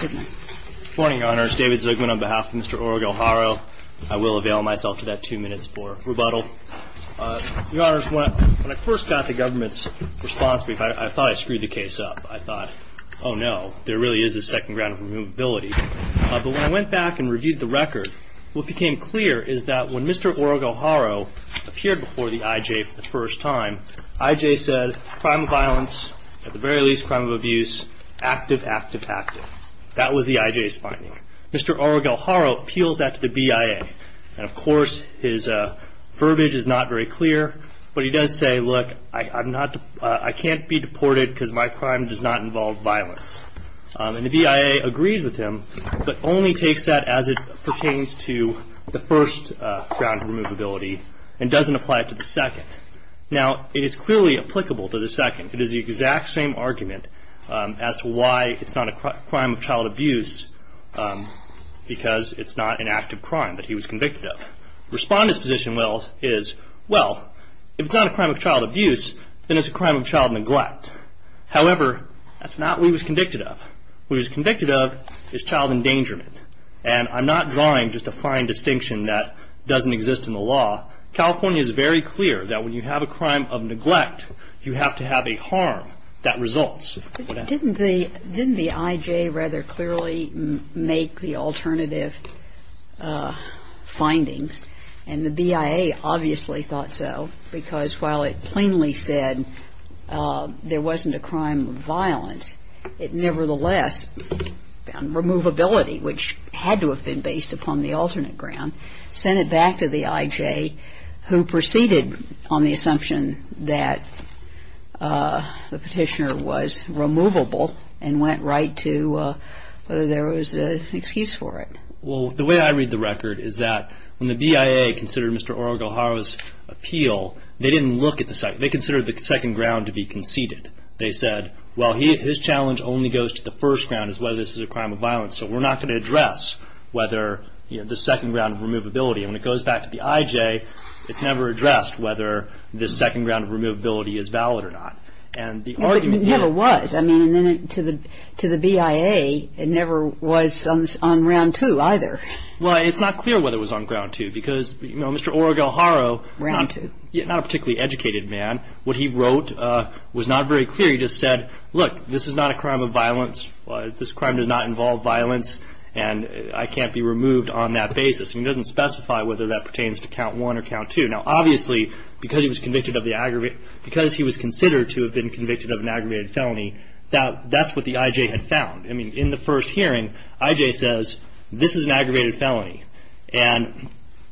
Good morning, Your Honors. David Zugman on behalf of Mr. Orogo-Haro. I will avail myself to that two minutes for rebuttal. Your Honors, when I first got the government's response brief, I thought I screwed the case up. I thought, oh no, there really is a second round of removability. But when I went back and reviewed the record, what became clear is that when Mr. Orogo-Haro appeared before the I.J. for the first time, I.J. said, crime violence, at the very least crime of abuse, active, active, active. That was the I.J.'s finding. Mr. Orogo-Haro appeals that to the B.I.A. And of course, his verbiage is not very clear, but he does say, look, I can't be deported because my crime does not involve violence. And the B.I.A. agrees with him, but only takes that as it pertains to the first round of removability and doesn't apply it to the second. Now, it is clearly applicable to the second. It is the exact same argument as to why it's not a crime of child abuse because it's not an active crime that he was convicted of. Respondent's position is, well, if it's not a crime of child abuse, then it's a crime of child neglect. However, that's not what he was convicted of. What he was convicted of is child endangerment. And I'm not drawing just a fine distinction that doesn't exist in the law. California is very clear that when you have a crime of neglect, you have to have a harm that results. But didn't the I.J. rather clearly make the alternative findings? And the B.I.A. obviously thought so because while it plainly said there wasn't a crime of violence, it nevertheless found removability, which had to have been based upon the alternate ground, sent it back to the I.J. who proceeded on the assumption that the petitioner was removable and went right to whether there was an excuse for it. Well, the way I read the record is that when the B.I.A. considered Mr. Oroguharo's appeal, they didn't look at the second. They considered the second ground to be conceded. They said, well, his challenge only goes to the first round as whether this is a crime of violence. So we're not going to address whether the second round of removability. And when it goes back to the I.J., it's never addressed whether this second round of removability is valid or not. And the argument here was, I mean, to the B.I.A., it never was on round two either. Well, it's not clear whether it was on ground two because, you know, Mr. Oroguharo Round two. Not a particularly educated man. What he wrote was not very clear. He just said, look, this is not a crime of violence. This crime does not involve violence. And I can't be removed on that basis. And he doesn't specify whether that pertains to count one or count two. Now, obviously, because he was convicted of the aggravated, because he was considered to have been convicted of an aggravated felony, that's what the I.J. had found. I mean, in the first hearing, I.J. says, this is an aggravated felony. And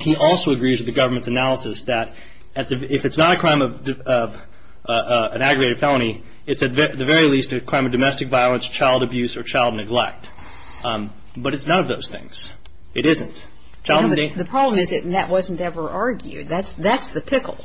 he also agrees with the government's analysis that if it's not a crime of an aggravated felony, it's at the very least a crime of domestic violence, child abuse, or child neglect. But it's none of those things. It isn't. The problem is that that wasn't ever argued. That's the pickle.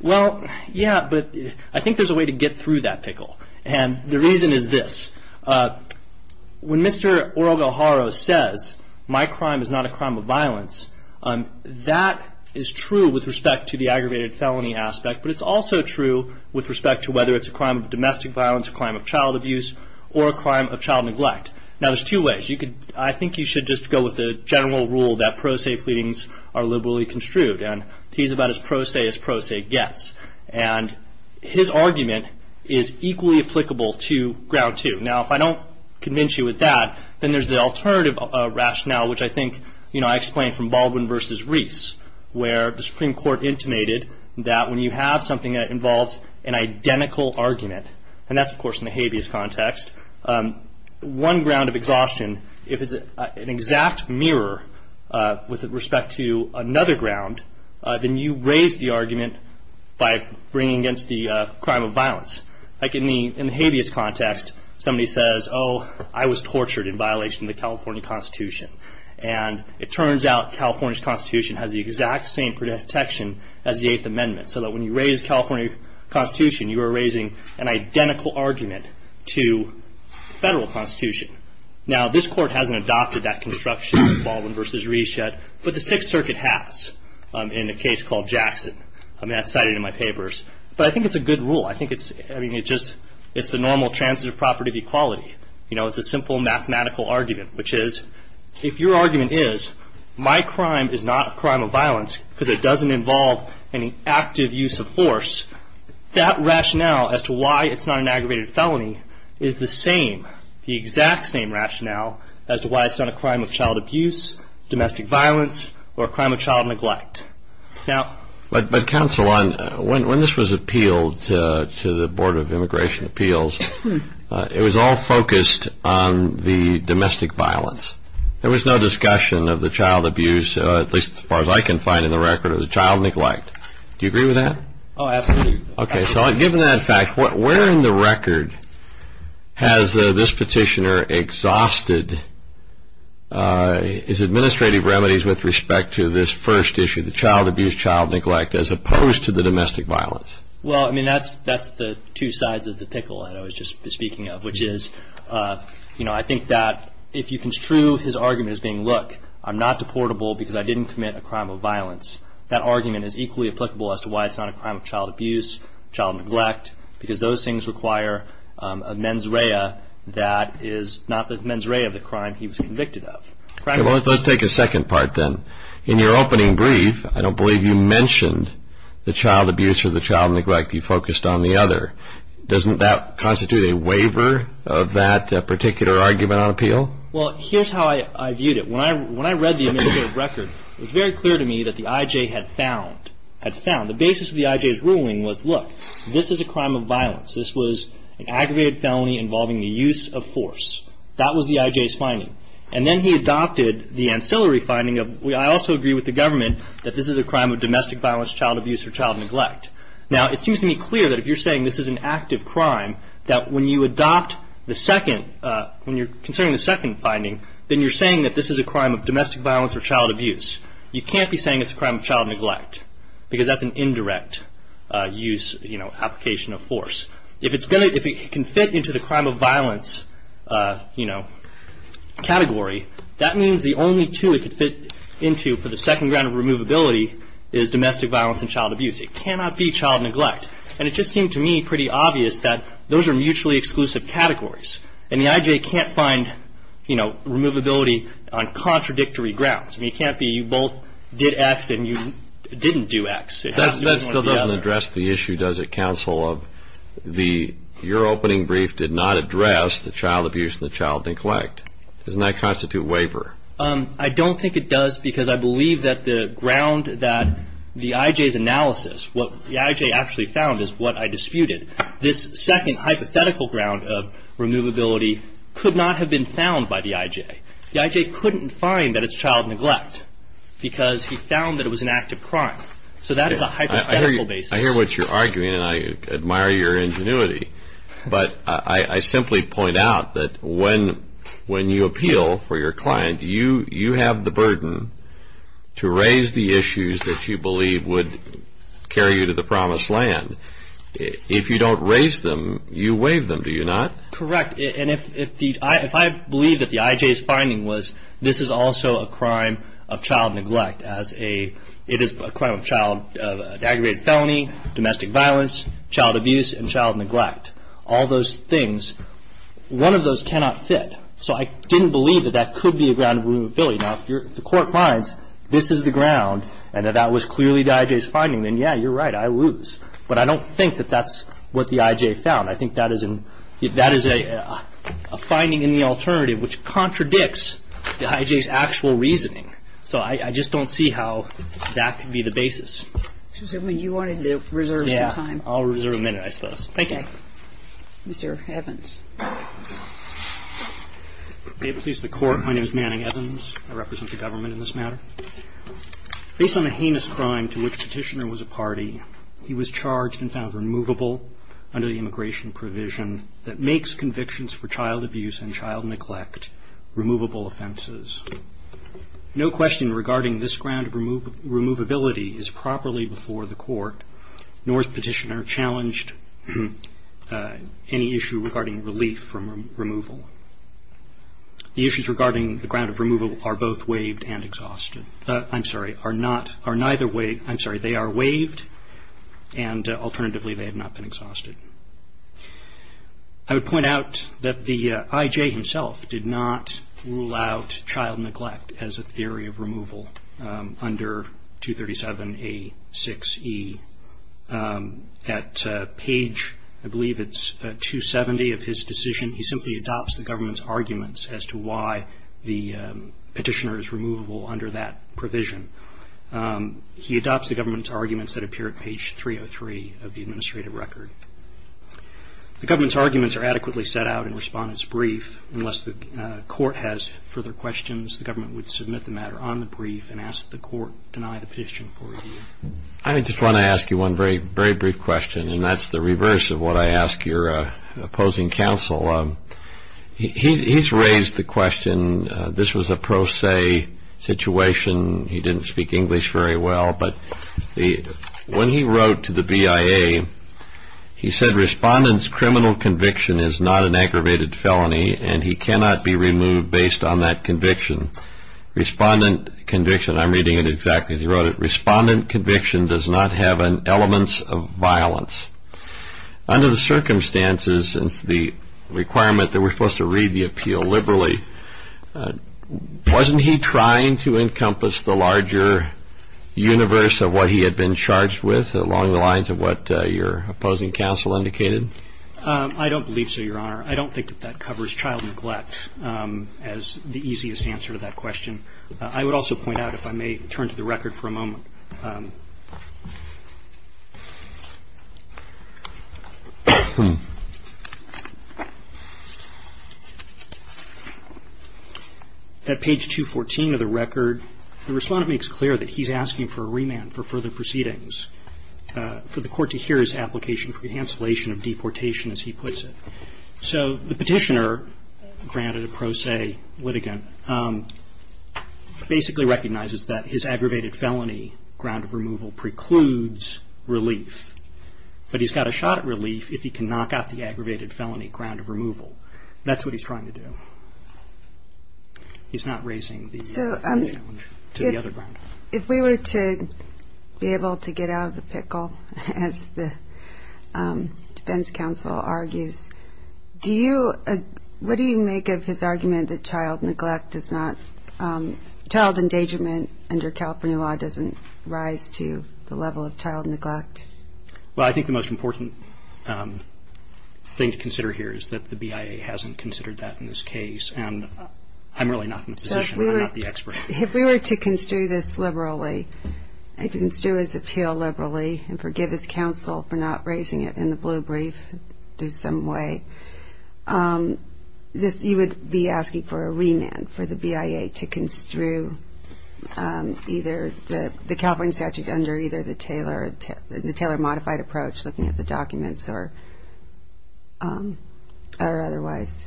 Well, yeah, but I think there's a way to get through that pickle. And the reason is this. When Mr. Oroguharo says, my crime is not a crime of violence, that is true with respect to the aggravated felony aspect. But it's also true with respect to whether it's a crime of domestic violence, a crime of child abuse, or a crime of child neglect. Now, there's two ways. I think you should just go with the general rule that pro se pleadings are liberally construed. And he's about as pro se as pro se gets. And his argument is equally applicable to ground two. Now, if I don't convince you with that, then there's the alternative rationale, which I think I explained from Baldwin versus Reese, where the Supreme Court intimated that when you have something that involves an identical argument, and that's, of course, in a habeas context, one ground of exhaustion, if it's an exact mirror with respect to another ground, then you raise the argument by bringing against the crime of violence. Like in the habeas context, somebody says, oh, I was tortured in violation of the California Constitution. And it turns out California's Constitution has the exact same protection as the Eighth Amendment. So that when you raise California Constitution, you are raising an identical argument to the Federal Constitution. Now, this Court hasn't adopted that construction of Baldwin versus Reese yet, but the Sixth Circuit has in a case called Jackson. I mean, that's cited in my papers. But I think it's a good rule. I think it's, I mean, it just, it's the normal transitive property of equality. You know, it's a simple mathematical argument, which is, if your argument is, my crime is not a crime of violence because it doesn't involve any active use of force, that rationale as to why it's not an aggravated felony is the same, the exact same rationale as to why it's not a crime of child abuse, domestic violence, or a crime of child neglect. Now... But, but, Counsel, when this was appealed to the Board of Immigration Appeals, it was all focused on the domestic violence. There was no discussion of the child abuse, at least as far as I can find in the record, or the child neglect. Do you agree with that? Oh, absolutely. Okay, so given that fact, what, where in the record has this petitioner exhausted his administrative remedies with respect to this first issue, the child abuse, child neglect, as opposed to the domestic violence? Well, I mean, that's, that's the two sides of the pickle that I was just speaking of, which is, you know, I think that if you construe his argument as being, look, I'm not deportable because I didn't commit a crime of violence, that argument is equally applicable as to why it's not a crime of child abuse, child neglect, because those things require a mens rea that is not the mens rea of the crime he was convicted of. Okay, well, let's take a second part then. In your opening brief, I don't believe you mentioned the child abuse or the child neglect. You focused on the other. Doesn't that constitute a waiver of that particular argument on appeal? Well, here's how I viewed it. When I read the administrative record, it was very clear to me that the IJ had found, had found, the basis of the IJ's ruling was, look, this is a crime of violence. This was an aggravated felony involving the use of force. That was the IJ's finding. And then he adopted the ancillary finding of, I also agree with the government that this is a crime of domestic violence, child abuse, or child neglect. Now, it seems to me clear that if you're saying this is an active crime, that when you adopt the second, when you're considering the second finding, then you're saying that this is a crime of domestic violence or child abuse. You can't be saying it's a crime of child neglect, because that's an indirect use, you know, application of force. If it's going to, if it can fit into the crime of violence, you know, category, that means the only two it could fit into for the second round of removability is domestic violence and child abuse. It cannot be child neglect. And it just seemed to me pretty obvious that those are mutually exclusive categories. And the IJ can't find, you know, removability on contradictory grounds. I mean, it can't be you both did X and you didn't do X. It has to be one or the other. That still doesn't address the issue, does it, Counsel, of the, your opening brief did not address the child abuse and the child neglect. Doesn't that constitute waiver? I don't think it does, because I believe that the ground that the IJ's analysis, what the IJ actually found is what I disputed. This second hypothetical ground of removability could not have been found by the IJ. The IJ couldn't find that it's child neglect, because he found that it was an act of crime. So that is a hypothetical basis. I hear what you're arguing, and I admire your ingenuity. But I simply point out that when you appeal for your client, you have the burden to raise the issues that you believe would carry you to the promised land. If you don't raise them, you waive them, do you not? Correct. And if I believe that the IJ's finding was this is also a crime of child neglect as a, it is a crime of child, aggravated felony, domestic violence, child abuse, and child neglect, all those things, one of those cannot fit. So I didn't believe that that could be a ground of removability. Now, if the court finds this is the ground, and that that was clearly the IJ's finding, then yeah, you're right, I lose. But I don't think that that's what the IJ found. I think that is a finding in the alternative which contradicts the IJ's actual reasoning. So I just don't see how that could be the basis. So you wanted to reserve some time? Yeah, I'll reserve a minute, I suppose. Thank you. Mr. Evans. May it please the court, my name is Manning Evans. I represent the government in this matter. Based on a heinous crime to which Petitioner was a party, he was charged and found removable under the immigration provision that makes convictions for child abuse and child neglect removable offenses. No question regarding this ground of removability is properly before the court, nor has Petitioner challenged any issue regarding relief from removal. The issues regarding the ground of removal are both waived and exhausted. I'm sorry, are neither waived, I'm sorry, they are waived and alternatively they have not been exhausted. I would point out that the IJ himself did not rule out child neglect as a theory of removal under 237A6E. At page, I believe it's 270 of his decision, he simply adopts the government's arguments as to why the Petitioner is removable under that provision. He adopts the government's arguments that appear at page 303 of the administrative record. The government's arguments are adequately set out in Respondent's Brief. Unless the court has further questions, the government would submit the matter on the brief and ask the court to deny the petition for review. I just want to ask you one very brief question and that's the reverse of what I ask your opposing counsel. He's raised the question, this was a pro se situation, he didn't speak English very well, but when he wrote to the BIA, he said Respondent's criminal conviction is not an aggravated felony and he cannot be removed based on that conviction. Respondent conviction, I'm reading it exactly as he wrote it, Respondent conviction does not have elements of violence. Under the circumstances and the requirement that we're supposed to read the appeal liberally, wasn't he trying to encompass the larger universe of what he had been charged with along the lines of what your opposing counsel indicated? I don't believe so, Your Honor. I don't think that that covers child neglect as the easiest answer to that question. I would also point out, if I may turn to the record for a moment. At page 214 of the record, the Respondent makes clear that he's asking for a remand for further proceedings for the court to hear his application for cancellation of deportation, as he puts it. So the petitioner, granted a pro se litigant, basically recognizes that his aggravated felony ground of removal precludes relief, but he's got a shot at relief if he can knock out the aggravated felony ground of removal. That's what he's trying to do. He's not raising the challenge to the other ground. If we were to be able to get out of the pickle, as the defense counsel argues, do you, what do you make of his argument that child neglect does not, child endangerment under California law doesn't rise to the level of child neglect? Well, I think the most important thing to consider here is that the BIA hasn't considered that in this case. And I'm really not in a position, I'm not the expert. If we were to construe this liberally, and construe his appeal liberally and forgive his counsel for not raising it in the blue brief, do some way, this, you would be asking for a remand for the BIA to construe either the, the California statute under either the Taylor, the Taylor modified approach, looking at the documents or, or otherwise,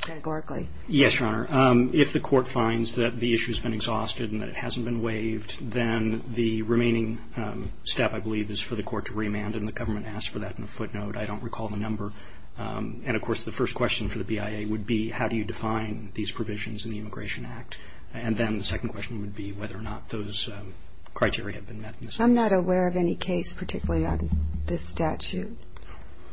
categorically. Yes, Your Honor. If the court finds that the issue's been exhausted and that it hasn't been waived, then the remaining step, I believe, is for the court to remand. And the government asked for that in a footnote. I don't recall the number. And, of course, the first question for the BIA would be, how do you define these provisions in the Immigration Act? And then the second question would be whether or not those criteria have been met. I'm not aware of any case particularly on this statute.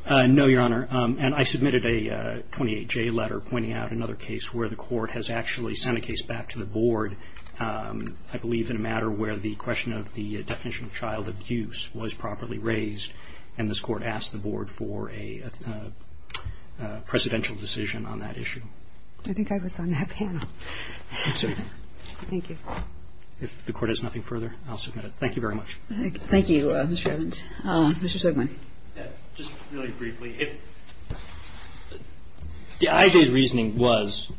No, Your Honor. And I submitted a 28-J letter pointing out another case where the court has actually sent a case back to the board, I believe, in a matter where the question of the definition of child abuse was properly raised. And this court asked the board for a, a, a presidential decision on that issue. I think I was on that panel. I'm sorry. Thank you. If the court has nothing further, I'll submit it. Thank you very much. Thank you, Mr. Evans. Mr. Zegman. Just really briefly, if, the IJ's reasoning was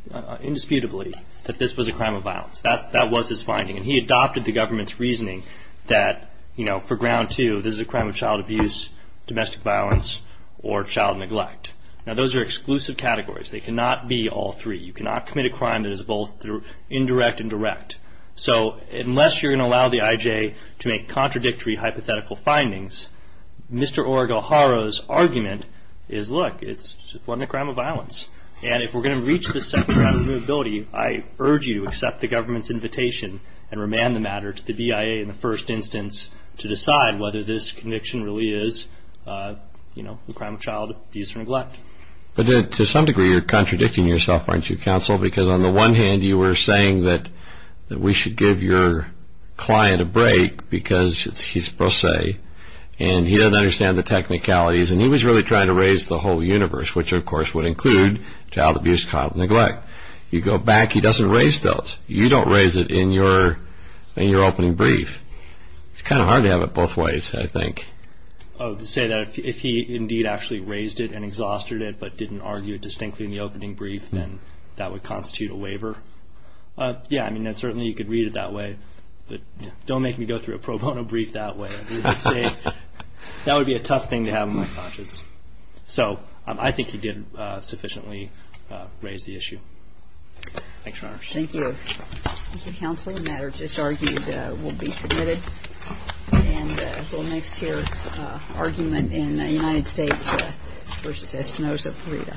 indisputably that this was a crime of violence. That, that was his finding. And he adopted the government's reasoning that, you know, for ground two, this is a crime of child abuse, domestic violence, or child neglect. Now, those are exclusive categories. They cannot be all three. You cannot commit a crime that is both indirect and direct. So, unless you're going to allow the IJ to make contradictory hypothetical findings, Mr. Oregohara's argument is, look, it's, it wasn't a crime of violence. And if we're going to reach the second round of removability, I urge you to accept the government's invitation and remand the matter to the BIA in the first instance to decide whether this conviction really is, you know, a crime of child abuse or neglect. But to some degree, you're contradicting yourself, aren't you, counsel? Because on the one hand, you were saying that, that we should give your client a break because he's pro se, and he doesn't understand the technicalities. And he was really trying to raise the whole universe, which of course would include child abuse, child neglect. You go back, he doesn't raise those. You don't raise it in your, in your opening brief. It's kind of hard to have it both ways, I think. Oh, to say that if he indeed actually raised it and exhausted it but didn't argue it distinctly in the opening brief, then that would constitute a waiver. Yeah, I mean, certainly you could read it that way. But don't make me go through a pro bono brief that way. I mean, I'd say that would be a tough thing to have in my conscience. So I think he did sufficiently raise the issue. Thanks, Your Honor. Thank you. Thank you, counsel. The matter just argued will be submitted, and we'll next hear argument in United States v. Espinoza-Pareda.